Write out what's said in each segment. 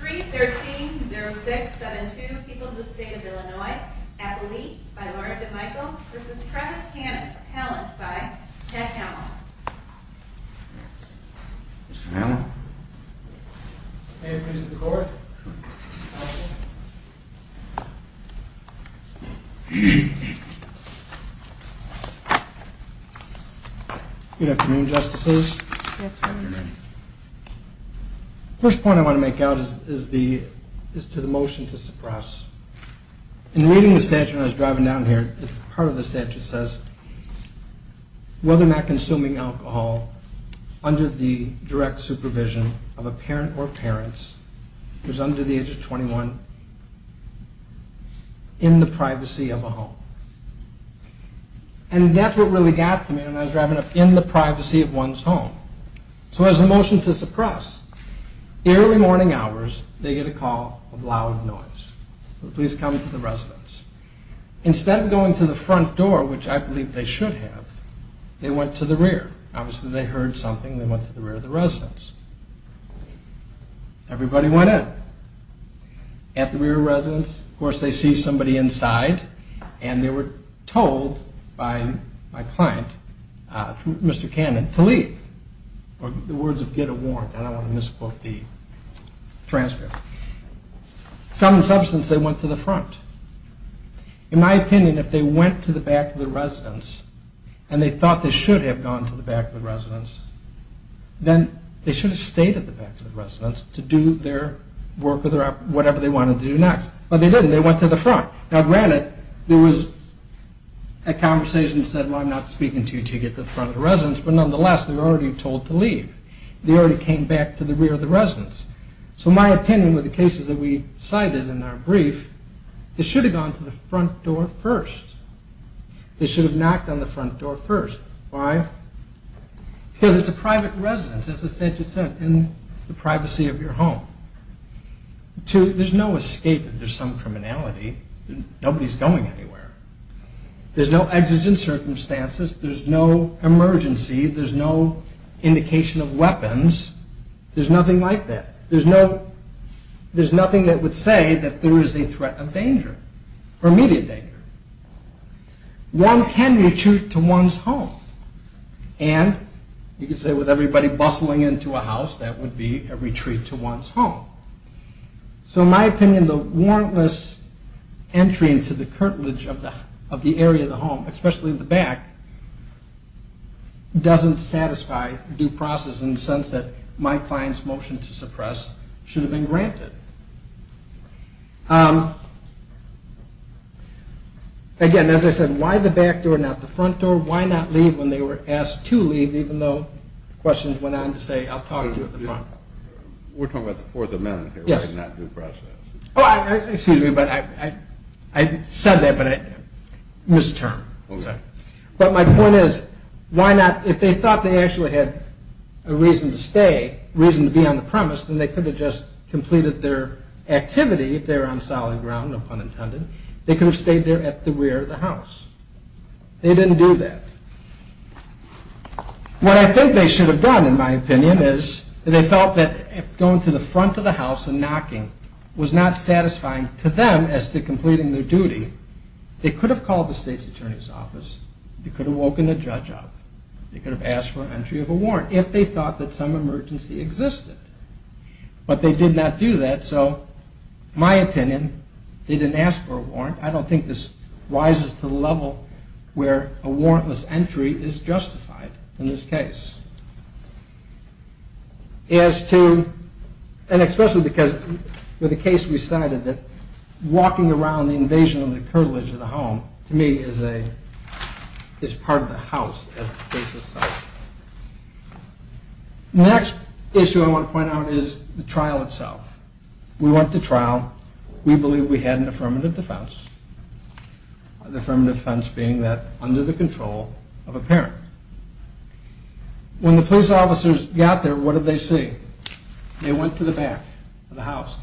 3-13-06-72 People of the State of Illinois Appellee by Lauren DeMichael This is Travis Cannon, Pallant by Ted Hamel Mr. Hamel May I present the court? Good afternoon, Justices. The first point I want to make out is to the motion to suppress. In reading the statute when I was driving down here, part of the statute says whether or not consuming alcohol under the direct supervision of a parent or parents who is under the age of 21 in the privacy of a home. And that's what really got to me when I was driving up in the privacy of one's home. So as a motion to suppress, early morning hours they get a call of loud noise. Please come to the residence. Instead of going to the front door, which I believe they should have, they went to the rear. Obviously they heard something, they went to the rear of the residence. Everybody went in. At the rear residence, of course they see somebody inside, and they were told by my client, Mr. Cannon, to leave. The words of Git are warned, and I don't want to misquote the transcript. Some in substance, they went to the front. In my opinion, if they went to the back of the residence, and they thought they should have gone to the back of the residence, then they should have stayed at the back of the residence to do their work or whatever they wanted to do next. But they didn't, they went to the front. Now granted, there was a conversation that said, well I'm not speaking to you until you get to the front of the residence, but nonetheless they were already told to leave. They already came back to the rear of the residence. So my opinion with the cases that we cited in our brief, they should have gone to the front door first. They should have knocked on the front door first. Why? Because it's a private residence, as the statute said, in the privacy of your home. There's no escape if there's some criminality. Nobody's going anywhere. There's no exigent circumstances. There's no emergency. There's no indication of weapons. There's nothing like that. There's nothing that would say that there is a threat of danger or immediate danger. One can retreat to one's home. And you could say with everybody bustling into a house, that would be a retreat to one's home. So in my opinion, the warrantless entry into the curtilage of the area of the home, especially the back, doesn't satisfy due process in the sense that my client's motion to suppress should have been granted. Again, as I said, why the back door, not the front door? Why not leave when they were asked to leave, even though questions went on to say, I'll talk to you at the front. We're talking about the Fourth Amendment here, why not due process? Excuse me, but I said that, but I misterned. But my point is, if they thought they actually had a reason to stay, a reason to be on the premise, then they could have just completed their activity if they were on solid ground, no pun intended. They could have stayed there at the rear of the house. They didn't do that. What I think they should have done, in my opinion, is they felt that going to the front of the house and knocking was not satisfying to them as to completing their duty. They could have called the state's attorney's office. They could have woken a judge up. They could have asked for an entry of a warrant if they thought that some emergency existed. But they did not do that, so in my opinion, they didn't ask for a warrant. I don't think this rises to the level where a warrantless entry is justified in this case. And especially because with the case we cited, that walking around the invasion of the curtilage of the home, to me, is part of the house as the case itself. The next issue I want to point out is the trial itself. We went to trial. We believe we had an affirmative defense. The affirmative defense being that under the control of a parent. When the police officers got there, what did they see? They went to the back of the house.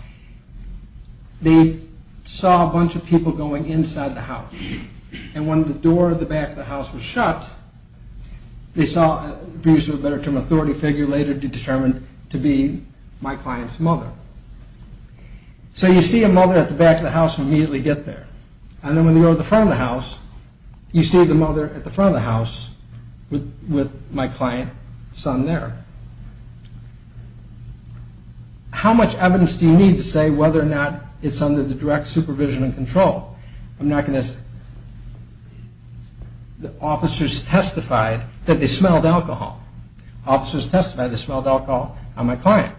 They saw a bunch of people going inside the house. And when the door of the back of the house was shut, they saw an authority figure later determined to be my client's mother. So you see a mother at the back of the house and immediately get there. And then when you go to the front of the house, you see the mother at the front of the house with my client's son there. How much evidence do you need to say whether or not it's under the direct supervision and control? I'm not going to... The officers testified that they smelled alcohol. Officers testified they smelled alcohol on my client.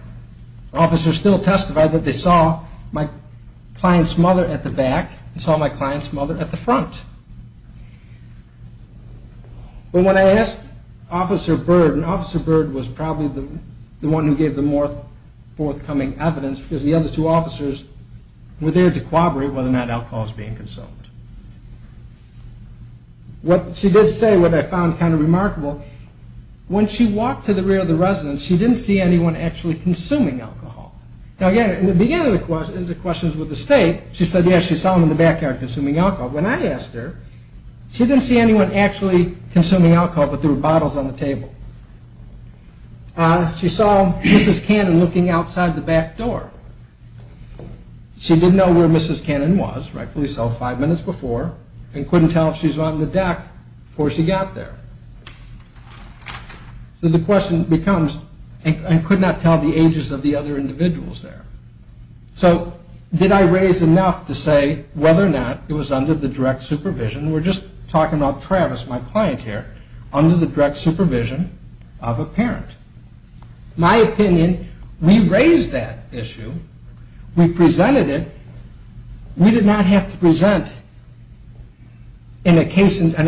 Officers still testified that they saw my client's mother at the back and saw my client's mother at the front. But when I asked Officer Bird, and Officer Bird was probably the one who gave the more forthcoming evidence, because the other two officers were there to corroborate whether or not alcohol was being consumed. What she did say, what I found kind of remarkable, when she walked to the rear of the residence, she didn't see anyone actually consuming alcohol. Now again, in the beginning of the questions with the state, she said yes, she saw them in the backyard consuming alcohol. When I asked her, she didn't see anyone actually consuming alcohol, but there were bottles on the table. She saw Mrs. Cannon looking outside the back door. She didn't know where Mrs. Cannon was. Rightfully so, five minutes before, and couldn't tell if she was on the deck before she got there. So the question becomes, and could not tell the ages of the other individuals there. So did I raise enough to say whether or not it was under the direct supervision? We're just talking about Travis, my client here. Under the direct supervision of a parent. My opinion, we raised that issue. We presented it. We did not have to present in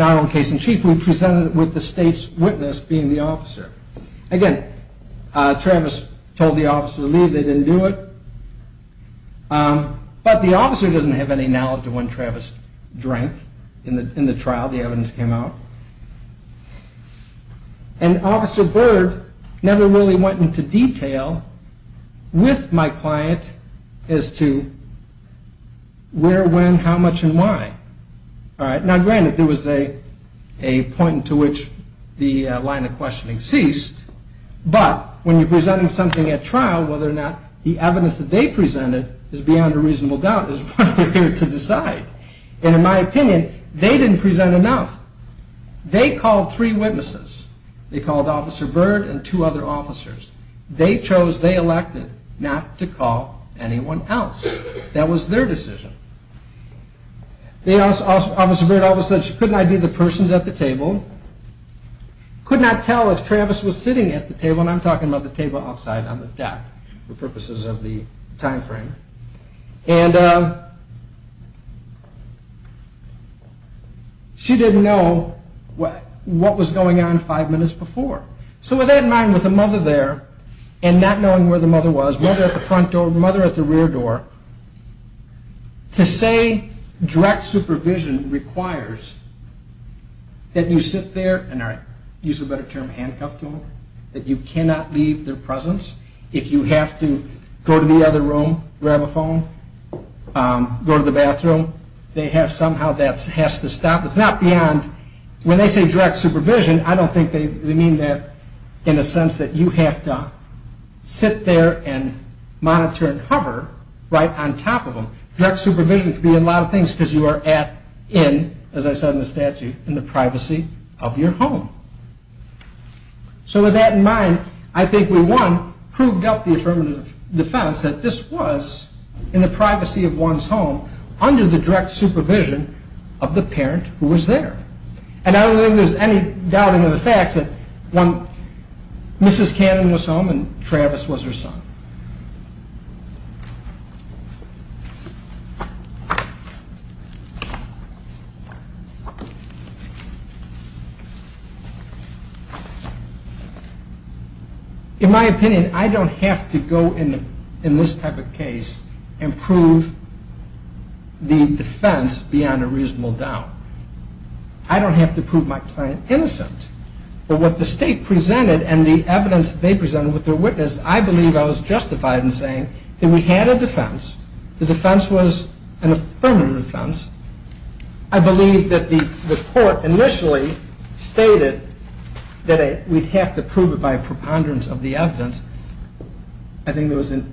our own case in chief. We presented it with the state's witness being the officer. Again, Travis told the officer to leave. They didn't do it. But the officer doesn't have any knowledge of when Travis drank in the trial. That's how the evidence came out. And Officer Byrd never really went into detail with my client as to where, when, how much, and why. Now granted, there was a point to which the line of questioning ceased, but when you're presenting something at trial, whether or not the evidence that they presented is beyond a reasonable doubt is what they're here to decide. And in my opinion, they didn't present enough. They called three witnesses. They called Officer Byrd and two other officers. They chose, they elected, not to call anyone else. That was their decision. Officer Byrd always said she couldn't ID the persons at the table, could not tell if Travis was sitting at the table, and I'm talking about the table outside on the deck for purposes of the time frame. And she didn't know what was going on five minutes before. So with that in mind, with the mother there, and not knowing where the mother was, mother at the front door, mother at the rear door, to say direct supervision requires that you sit there, and I'll use a better term, handcuffed to them, that you cannot leave their presence. If you have to go to the other room, grab a phone, go to the bathroom, somehow that has to stop. It's not beyond, when they say direct supervision, I don't think they mean that in a sense that you have to sit there and monitor and hover right on top of them. Direct supervision can be a lot of things because you are at, in, as I said in the statute, in the privacy of your home. So with that in mind, I think we, one, proved up the affirmative defense that this was, in the privacy of one's home, under the direct supervision of the parent who was there. And I don't think there's any doubting of the facts that one, Mrs. Cannon was home and Travis was her son. In my opinion, I don't have to go in this type of case and prove the defense beyond a reasonable doubt. I don't have to prove my client innocent. But what the state presented and the evidence they presented with their witness, I believe I was justified in saying that we had a defense. The defense was an affirmative defense. I believe that the court initially stated that we'd have to prove it by a preponderance of the evidence. I think there was, in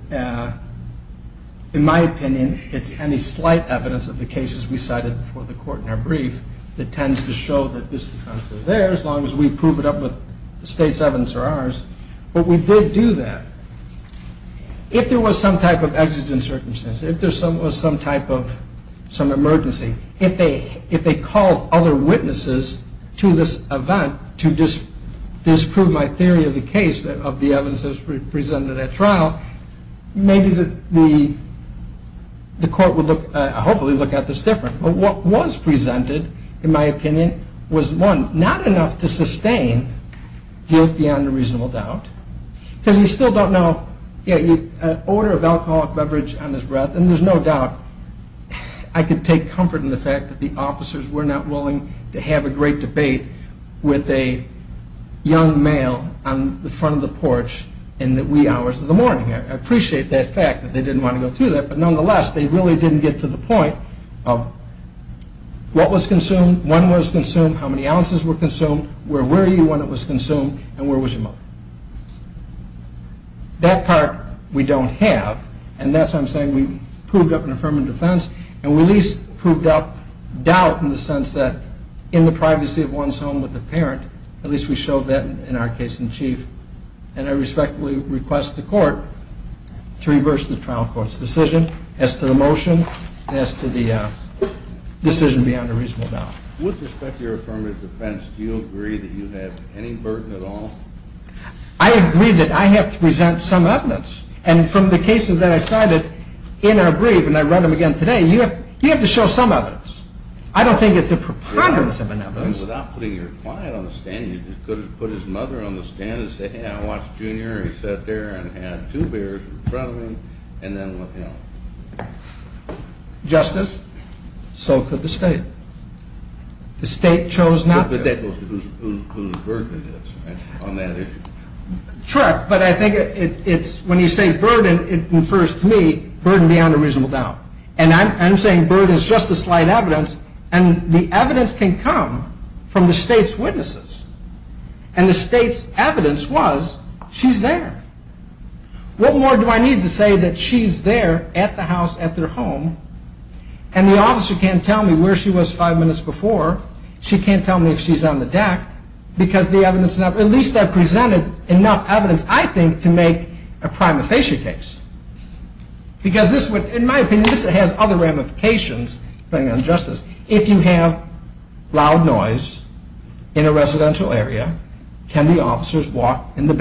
my opinion, it's any slight evidence of the cases we cited before the court in our brief that tends to show that this defense is there as long as we prove it up with the state's evidence or ours. But we did do that. If there was some type of exigent circumstance, if there was some type of emergency, if they called other witnesses to this event to disprove my theory of the case, of the evidence that was presented at trial, maybe the court would hopefully look at this differently. But what was presented, in my opinion, was one, not enough to sustain guilt beyond a reasonable doubt. Because you still don't know, yeah, an order of alcoholic beverage on his breath, and there's no doubt I could take comfort in the fact that the officers were not willing to have a great debate with a young male on the front of the porch in the wee hours of the morning. I appreciate that fact that they didn't want to go through that, but nonetheless, they really didn't get to the point of what was consumed, when was consumed, how many ounces were consumed, where were you when it was consumed, and where was your mother? That part we don't have, and that's why I'm saying we proved up an affirmative defense, and we at least proved up doubt in the sense that in the privacy of one's home with the parent, at least we showed that in our case in chief, and I respectfully request the court to reverse the trial court's decision as to the motion and as to the decision beyond a reasonable doubt. With respect to your affirmative defense, do you agree that you have any burden at all? I agree that I have to present some evidence, and from the cases that I cited in our brief, and I read them again today, you have to show some evidence. I don't think it's a preponderance of evidence. Without putting your client on the stand, you could have put his mother on the stand and said, hey, I watched Junior, and he sat there and had two beers in front of him, and then left him. Justice, so could the state. The state chose not to. But that goes to whose burden it is on that issue. True, but I think when you say burden, it refers to me, burden beyond a reasonable doubt, and I'm saying burden is just a slight evidence, and the evidence can come from the state's witnesses, and the state's evidence was she's there. What more do I need to say that she's there at the house, at their home, and the officer can't tell me where she was five minutes before, she can't tell me if she's on the deck, because the evidence is not, at least I presented enough evidence, I think, to make a prima facie case. Because this would, in my opinion, this has other ramifications, depending on justice. If you have loud noise in a residential area, can the officers walk in the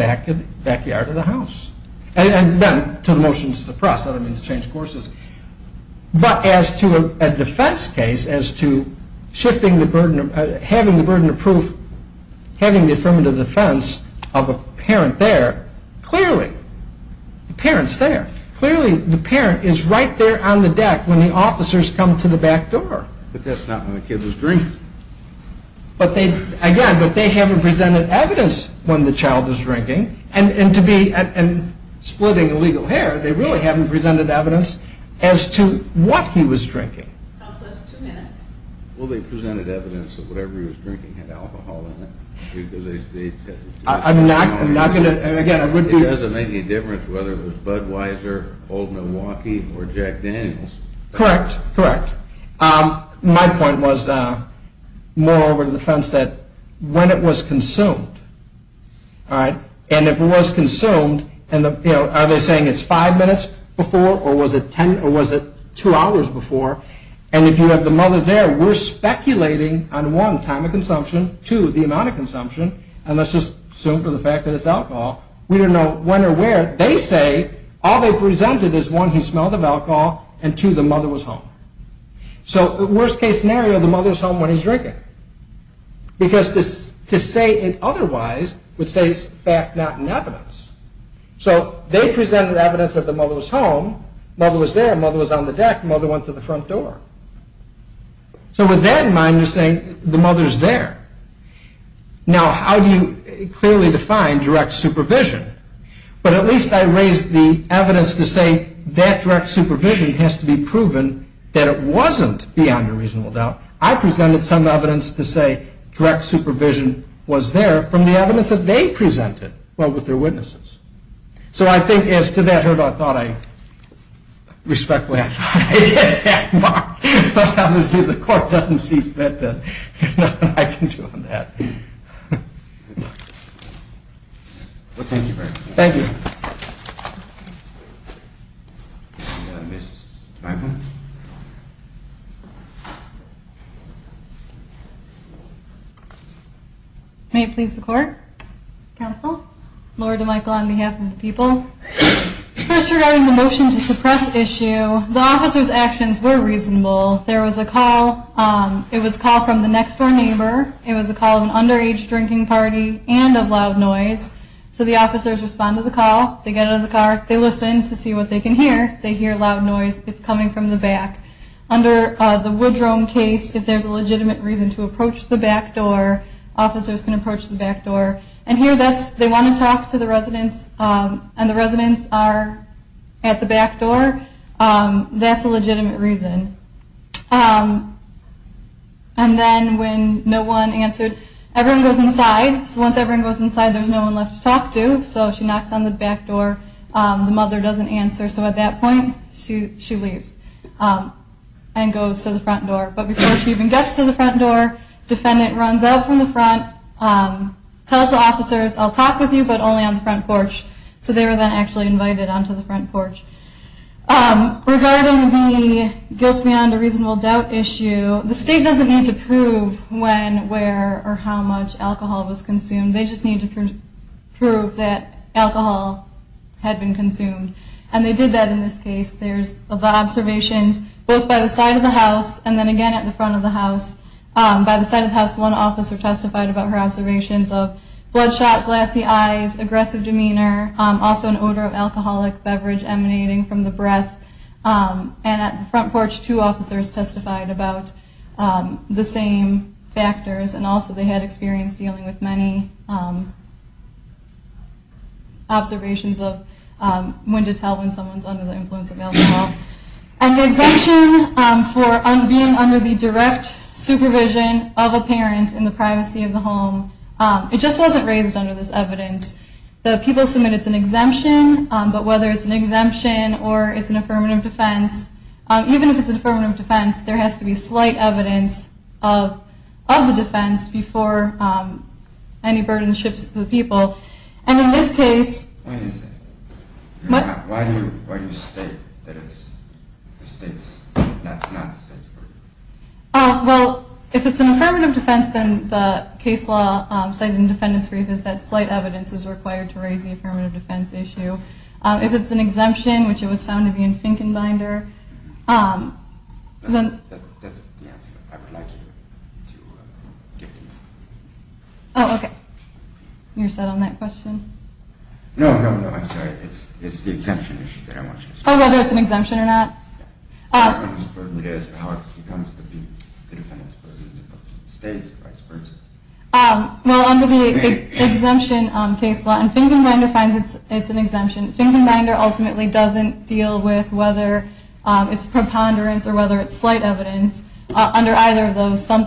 backyard of the house? And then to the motion to suppress, that would mean to change courses. But as to a defense case, as to shifting the burden, having the burden of proof, having the affirmative defense of a parent there, clearly the parent's there. Clearly the parent is right there on the deck when the officers come to the back door. But that's not when the kid was drinking. But they, again, but they haven't presented evidence when the child was drinking, and to be, and splitting legal hair, they really haven't presented evidence as to what he was drinking. Well, they presented evidence that whatever he was drinking had alcohol in it. I'm not, I'm not going to, and again, I would be. It doesn't make any difference whether it was Budweiser, Old Milwaukee, or Jack Daniels. Correct, correct. My point was more over the fence that when it was consumed, all right, and if it was consumed, and the, you know, are they saying it's five minutes before, or was it ten, or was it two hours before, and if you have the mother there, we're speculating on one, time of consumption, two, the amount of consumption, and let's just assume for the fact that it's alcohol. We don't know when or where. They say all they presented is one, he smelled of alcohol, and two, the mother was home. So worst case scenario, the mother's home when he's drinking. Because to say it otherwise would say it's fact, not an evidence. So they presented evidence that the mother was home, mother was there, mother was on the deck, mother went to the front door. So with that in mind, you're saying the mother's there. Now, how do you clearly define direct supervision? But at least I raised the evidence to say that direct supervision has to be proven that it wasn't beyond a reasonable doubt. I presented some evidence to say direct supervision was there from the evidence that they presented, well, with their witnesses. So I think as to that, Herb, I thought I, respectfully, I thought I hit that mark. But obviously the court doesn't see that there's nothing I can do on that. Well, thank you very much. Thank you. Thank you. Ms. Dreifel. May it please the court? Counsel. Laura Dreifel on behalf of the people. First regarding the motion to suppress issue, the officer's actions were reasonable. There was a call. It was a call from the next-door neighbor. It was a call of an underage drinking party and of loud noise. So the officers respond to the call. They get out of the car. They listen to see what they can hear. They hear loud noise. It's coming from the back. Under the Woodrome case, if there's a legitimate reason to approach the back door, officers can approach the back door. And here they want to talk to the residents, and the residents are at the back door. That's a legitimate reason. And then when no one answered, everyone goes inside. So once everyone goes inside, there's no one left to talk to. So she knocks on the back door. The mother doesn't answer. So at that point, she leaves and goes to the front door. But before she even gets to the front door, defendant runs out from the front, tells the officers, I'll talk with you, but only on the front porch. So they were then actually invited onto the front porch. Regarding the guilt beyond a reasonable doubt issue, the state doesn't need to prove when, where, or how much alcohol was consumed. They just need to prove that alcohol had been consumed. And they did that in this case. There's the observations both by the side of the house and then again at the front of the house. By the side of the house, one officer testified about her observations of bloodshot, glassy eyes, aggressive demeanor, also an odor of alcoholic beverage emanating from the breath. And at the front porch, two officers testified about the same factors, and also they had experience dealing with many observations of when to tell when someone's under the influence of alcohol. And the exemption for being under the direct supervision of a parent in the privacy of the home, it just wasn't raised under this evidence. The people submit it's an exemption, but whether it's an exemption or it's an affirmative defense, even if it's an affirmative defense, there has to be slight evidence of the defense before any burden shifts to the people. And in this case- Wait a second. Why do you state that it's the state's? That's not the state's burden? Well, if it's an affirmative defense, then the case law cited in the defendant's brief is that slight evidence is required to raise the affirmative defense issue. If it's an exemption, which it was found to be in Finkenbinder, then- That's the answer I would like you to give to me. Oh, okay. You're set on that question? No, no, no. I'm sorry. It's the exemption issue that I want you to speak to. Oh, whether it's an exemption or not? or vice versa. Well, under the exemption case law, and Finkenbinder finds it's an exemption, Finkenbinder ultimately doesn't deal with whether it's preponderance or whether it's slight evidence. Under either of those, some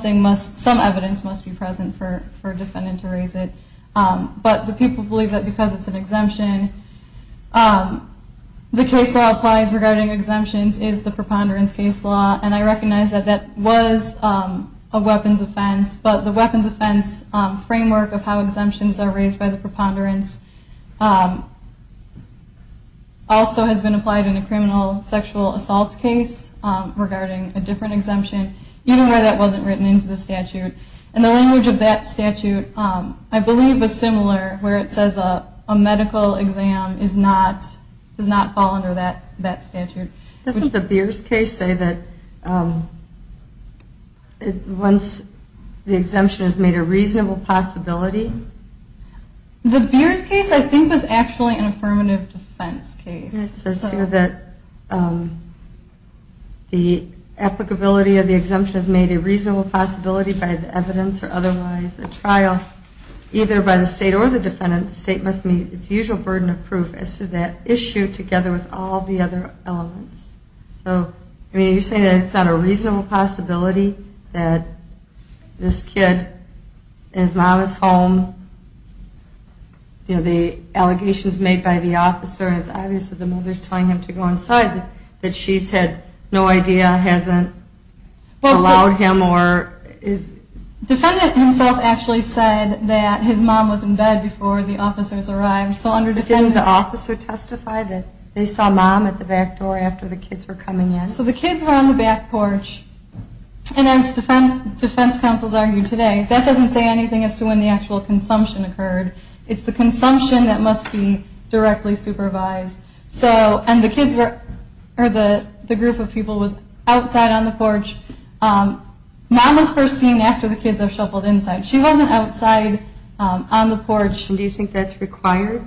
evidence must be present for a defendant to raise it. But the people believe that because it's an exemption, the case law applies regarding exemptions is the preponderance case law, and I recognize that that was a weapons offense, but the weapons offense framework of how exemptions are raised by the preponderance also has been applied in a criminal sexual assault case regarding a different exemption, even where that wasn't written into the statute. And the language of that statute, I believe, is similar, where it says a medical exam does not fall under that statute. Doesn't the Beers case say that once the exemption is made a reasonable possibility? The Beers case, I think, was actually an affirmative defense case. It says here that the applicability of the exemption is made a reasonable possibility by the evidence or otherwise a trial either by the state or the defendant. The state must meet its usual burden of proof as to that issue together with all the other elements. So are you saying that it's not a reasonable possibility that this kid and his mom is home, the allegations made by the officer, and it's obvious that the mother is telling him to go inside, that she's had no idea, hasn't allowed him or is... The defendant himself actually said that his mom was in bed before the officers arrived. Didn't the officer testify that they saw mom at the back door after the kids were coming in? So the kids were on the back porch, and as defense counsels argued today, that doesn't say anything as to when the actual consumption occurred. It's the consumption that must be directly supervised. And the group of people was outside on the porch. Mom was first seen after the kids were shuffled inside. She wasn't outside on the porch. Do you think that's required?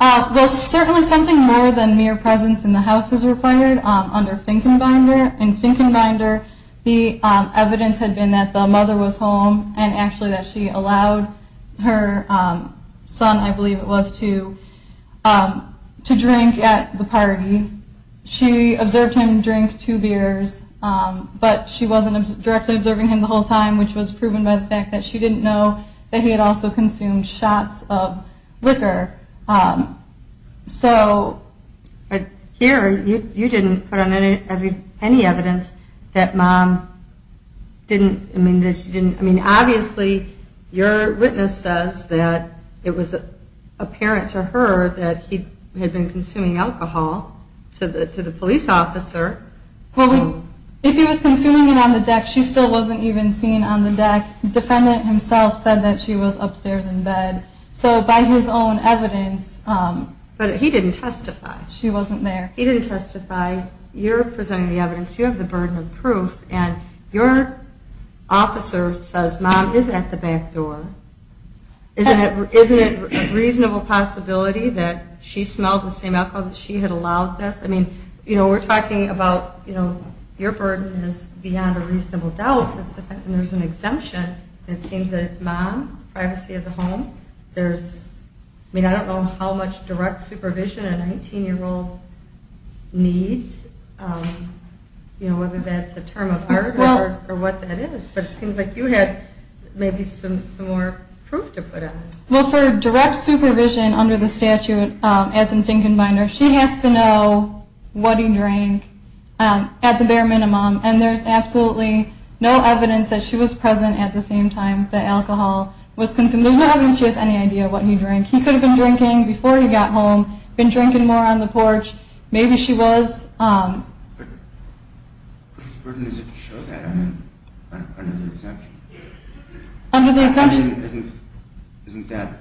Well, certainly something more than mere presence in the house is required under Finkenbinder. In Finkenbinder, the evidence had been that the mother was home and actually that she allowed her son, I believe it was, to drink at the party. She observed him drink two beers, but she wasn't directly observing him the whole time, which was proven by the fact that she didn't know that he had also consumed shots of liquor. So... Here, you didn't put on any evidence that mom didn't... I mean, obviously your witness says that it was apparent to her that he had been consuming alcohol to the police officer. If he was consuming it on the deck, she still wasn't even seen on the deck. The defendant himself said that she was upstairs in bed. So by his own evidence... But he didn't testify. She wasn't there. He didn't testify. You're presenting the evidence. You have the burden of proof. And your officer says, Mom is at the back door. Isn't it a reasonable possibility that she smelled the same alcohol that she had allowed this? I mean, we're talking about your burden is beyond a reasonable doubt. And there's an exemption. It seems that it's mom, privacy of the home. I mean, I don't know how much direct supervision a 19-year-old needs, whether that's a term of art or what that is. But it seems like you had maybe some more proof to put on it. Well, for direct supervision under the statute, as in Finkenbeiner, she has to know what he drank at the bare minimum. And there's absolutely no evidence that she was present at the same time the alcohol was consumed. There's no evidence she has any idea what he drank. He could have been drinking before he got home, been drinking more on the porch. Maybe she was. But where is it to show that under the exemption? Under the exemption? Isn't that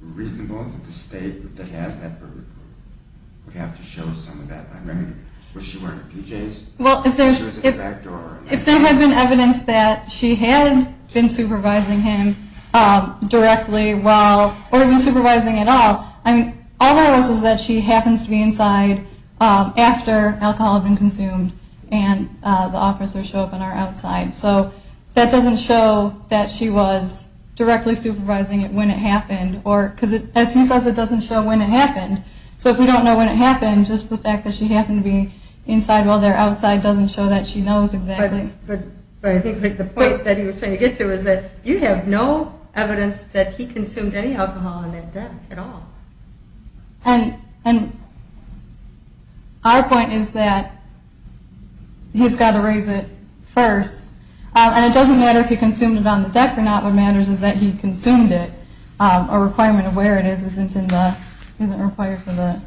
reasonable that the state that has that burden would have to show some of that by remedy? Was she wearing a PJs? Well, if there had been evidence that she had been supervising him directly while, or even supervising at all, all there was was that she happens to be inside after alcohol had been consumed and the officers show up and are outside. So that doesn't show that she was directly supervising it when it happened. Because as he says, it doesn't show when it happened. So if we don't know when it happened, just the fact that she happened to be inside while they're outside doesn't show that she knows exactly. But I think the point that he was trying to get to is that you have no evidence that he consumed any alcohol on that day at all. And our point is that he's got to raise it first. And it doesn't matter if he consumed it on the deck or not. What matters is that he consumed it. A requirement of where it is isn't required for the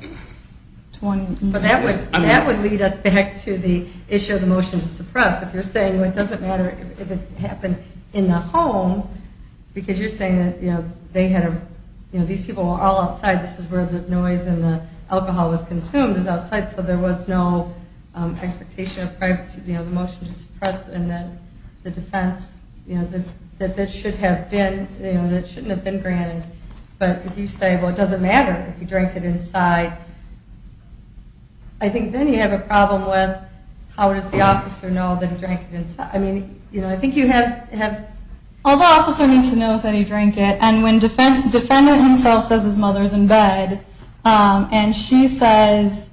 20. But that would lead us back to the issue of the motion to suppress. If you're saying, well, it doesn't matter if it happened in the home, because you're saying that they had a, you know, these people were all outside. This is where the noise and the alcohol was consumed was outside. So there was no expectation of privacy. You know, the motion to suppress and then the defense, you know, that that should have been, you know, that shouldn't have been granted. But if you say, well, it doesn't matter if he drank it inside. I think then you have a problem with how does the officer know that he drank it inside. I mean, you know, I think you have. All the officer needs to know is that he drank it. And when defendant himself says his mother is in bed and she says,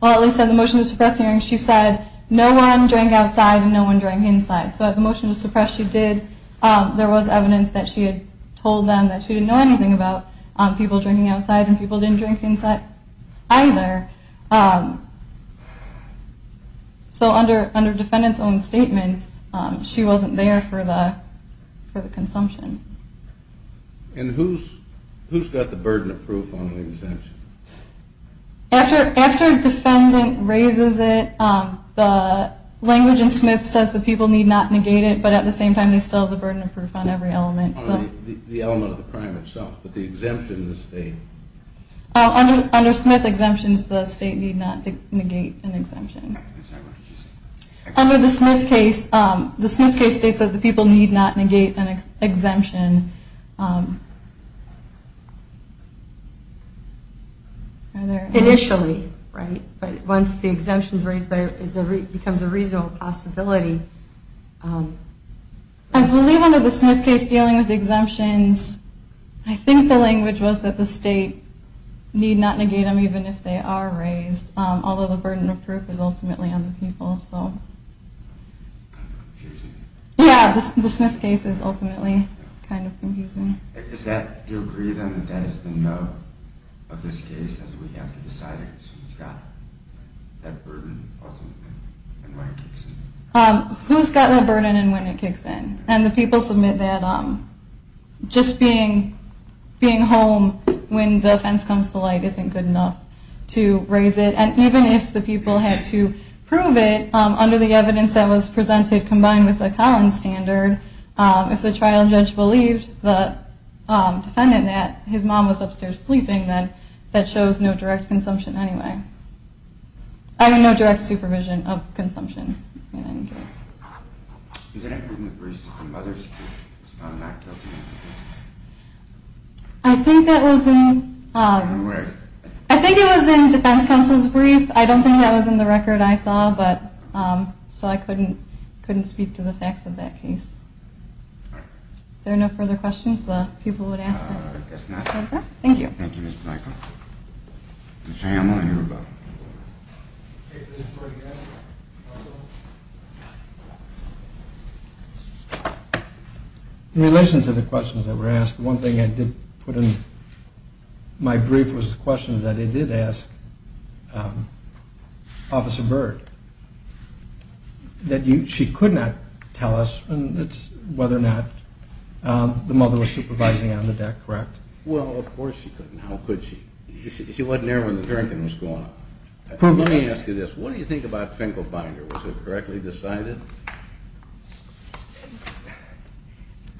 well, at least at the motion to suppress hearing, she said no one drank outside and no one drank inside. So at the motion to suppress she did. There was evidence that she had told them that she didn't know anything about people drinking outside and people didn't drink inside either. So under defendant's own statements, she wasn't there for the consumption. And who's got the burden of proof on the exemption? After defendant raises it, the language in Smith says the people need not negate it. But at the same time, they still have the burden of proof on every element. The element of the crime itself. But the exemption, the state. Under Smith exemptions, the state need not negate an exemption. Under the Smith case, the Smith case states that the people need not negate an exemption. Initially, right? But once the exemption is raised, it becomes a reasonable possibility. I believe under the Smith case dealing with exemptions, I think the language was that the state need not negate them even if they are raised. Although the burden of proof is ultimately on the people. Yeah, the Smith case is ultimately kind of confusing. Who's got that burden and when it kicks in? And the people submit that just being home when the fence comes to light isn't good enough to raise it. And even if the people had to prove it under the evidence that was presented combined with the Collins standard, if the trial judge believed the defendant that his mom was upstairs sleeping, then that shows no direct consumption anyway. I mean, no direct supervision of consumption in any case. Is that included in the briefs of the mother's case? I think that was in the defense counsel's brief. I don't think that was in the record I saw, so I couldn't speak to the facts of that case. All right. If there are no further questions, the people would ask them. I guess not. Thank you. Thank you, Ms. Michael. Ms. Hamlin, you're up. In relation to the questions that were asked, one thing I did put in my brief was questions that I did ask Officer Byrd. She could not tell us whether or not the mother was supervising on the deck, correct? Well, of course she couldn't. How could she? She wasn't there when the drinking was going on. Let me ask you this. What do you think about Finkelbinder? Was it correctly decided?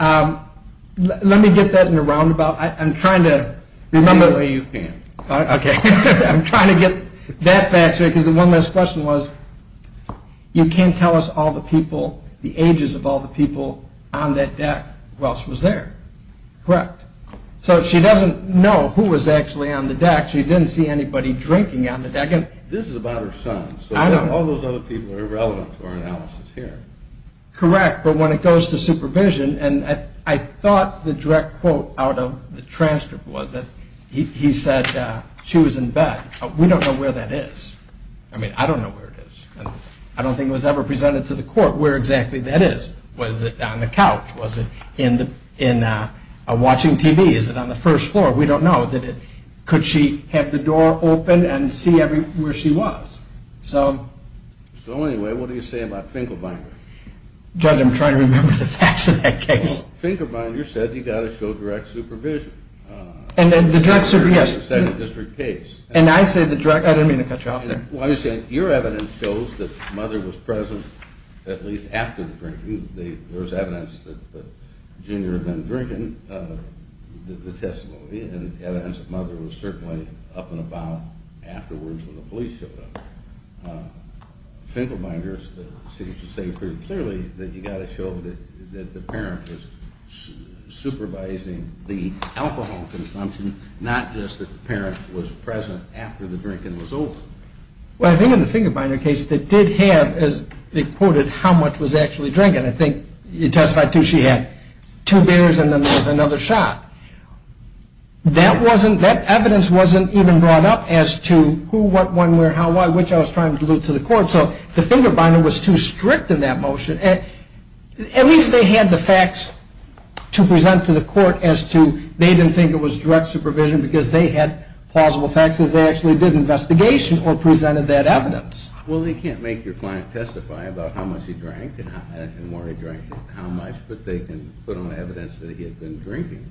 Let me get that in a roundabout. I'm trying to remember. No, you can't. Okay. I'm trying to get that fact straight because the one last question was you can't tell us all the people, the ages of all the people on that deck who else was there. Correct. So she doesn't know who was actually on the deck. She didn't see anybody drinking on the deck. This is about her son. So all those other people are irrelevant to our analysis here. Correct. But when it goes to supervision, and I thought the direct quote out of the transcript was that he said she was in bed. We don't know where that is. I mean, I don't know where it is. I don't think it was ever presented to the court where exactly that is. Was it on the couch? Was it in watching TV? Is it on the first floor? We don't know. Could she have the door open and see where she was? So anyway, what do you say about Finkelbinder? Judge, I'm trying to remember the facts of that case. Finkelbinder said you've got to show direct supervision. And then the direct supervision, yes. And I say the direct, I didn't mean to cut you off there. Your evidence shows that Mother was present at least after the drinking. There's evidence that Junior had been drinking, the testimony, and evidence that Mother was certainly up and about afterwards when the police showed up. Finkelbinder seems to say pretty clearly that you've got to show that the parent is supervising the alcohol consumption, not just that the parent was present after the drinking was over. Well, I think in the Finkelbinder case, they did have, as they quoted, how much was actually drinking. And I think you testified, too, she had two beers and then there was another shot. That evidence wasn't even brought up as to who, what, when, where, how, why, which I was trying to allude to the court. So the Finkelbinder was too strict in that motion. At least they had the facts to present to the court as to they didn't think it was direct supervision because they had plausible facts as they actually did an investigation or presented that evidence. Well, they can't make your client testify about how much he drank and where he drank and how much, but they can put on evidence that he had been drinking.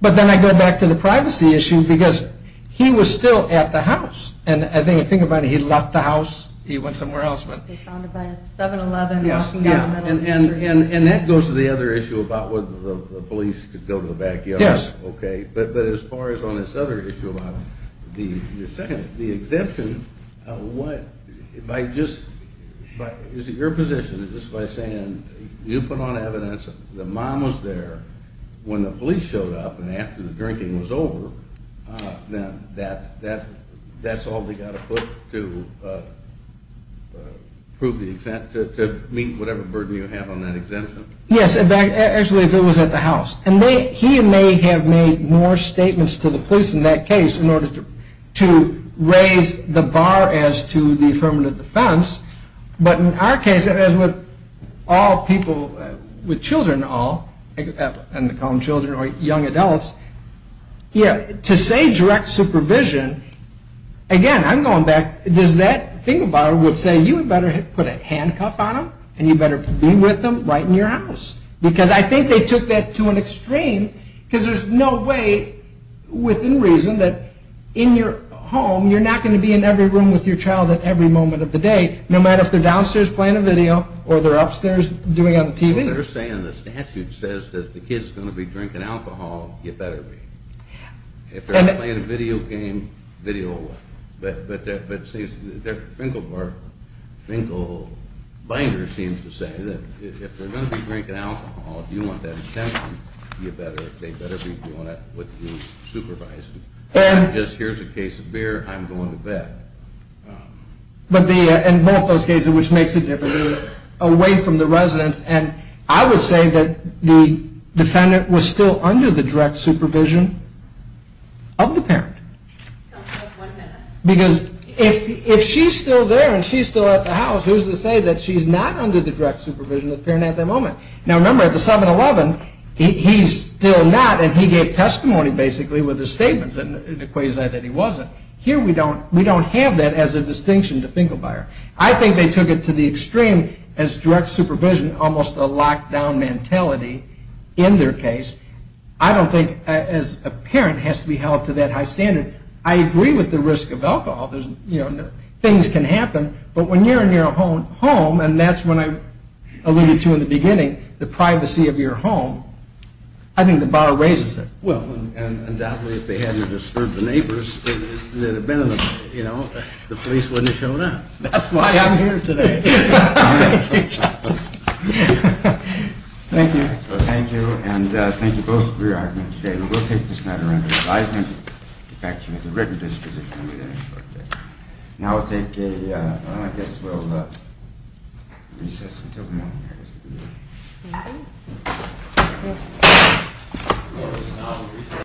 But then I go back to the privacy issue because he was still at the house. And the thing about it, he left the house, he went somewhere else. He was found by a 7-Eleven walking down the middle of the street. And that goes to the other issue about whether the police could go to the backyard. Yes. Okay. But as far as on this other issue about the second, the exemption, what, by just, is it your position that just by saying you put on evidence the mom was there when the police showed up and after the drinking was over, that's all they got to put to prove the, to meet whatever burden you have on that exemption? Yes, actually if it was at the house. And he may have made more statements to the police in that case in order to raise the bar as to the affirmative defense. But in our case, as with all people, with children all, and we call them children or young adults, to say direct supervision, again, I'm going back, does that, think about it, would say you had better put a handcuff on him and you better be with him right in your house. Because I think they took that to an extreme because there's no way within reason that in your home you're not going to be in every room with your child at every moment of the day, no matter if they're downstairs playing a video or they're upstairs doing it on the TV. So they're saying the statute says that if the kid's going to be drinking alcohol, you better be. If they're playing a video game, video away. But Finkelbinder seems to say that if they're going to be drinking alcohol, if you want that attention, they better be doing it with the supervisor. Not just here's a case of beer, I'm going to bet. But in both those cases, which makes a difference, away from the residence, and I would say that the defendant was still under the direct supervision of the parent. Because if she's still there and she's still at the house, who's to say that she's not under the direct supervision of the parent at that moment? Now remember at the 7-11, he's still not and he gave testimony basically with his statements and it equates that he wasn't. Here we don't have that as a distinction to Finkelbinder. I think they took it to the extreme as direct supervision, almost a lockdown mentality in their case. I don't think as a parent has to be held to that high standard. I agree with the risk of alcohol. Things can happen. But when you're in your home, and that's what I alluded to in the beginning, the privacy of your home, I think the bar raises it. Well, undoubtedly if they hadn't disturbed the neighbors, the police wouldn't have shown up. That's why I'm here today. Thank you. Thank you. Thank you both for your arguments today. We'll take this matter under advisement. In fact, there's a written disposition over there. Now I guess we'll recess until the morning. Thank you.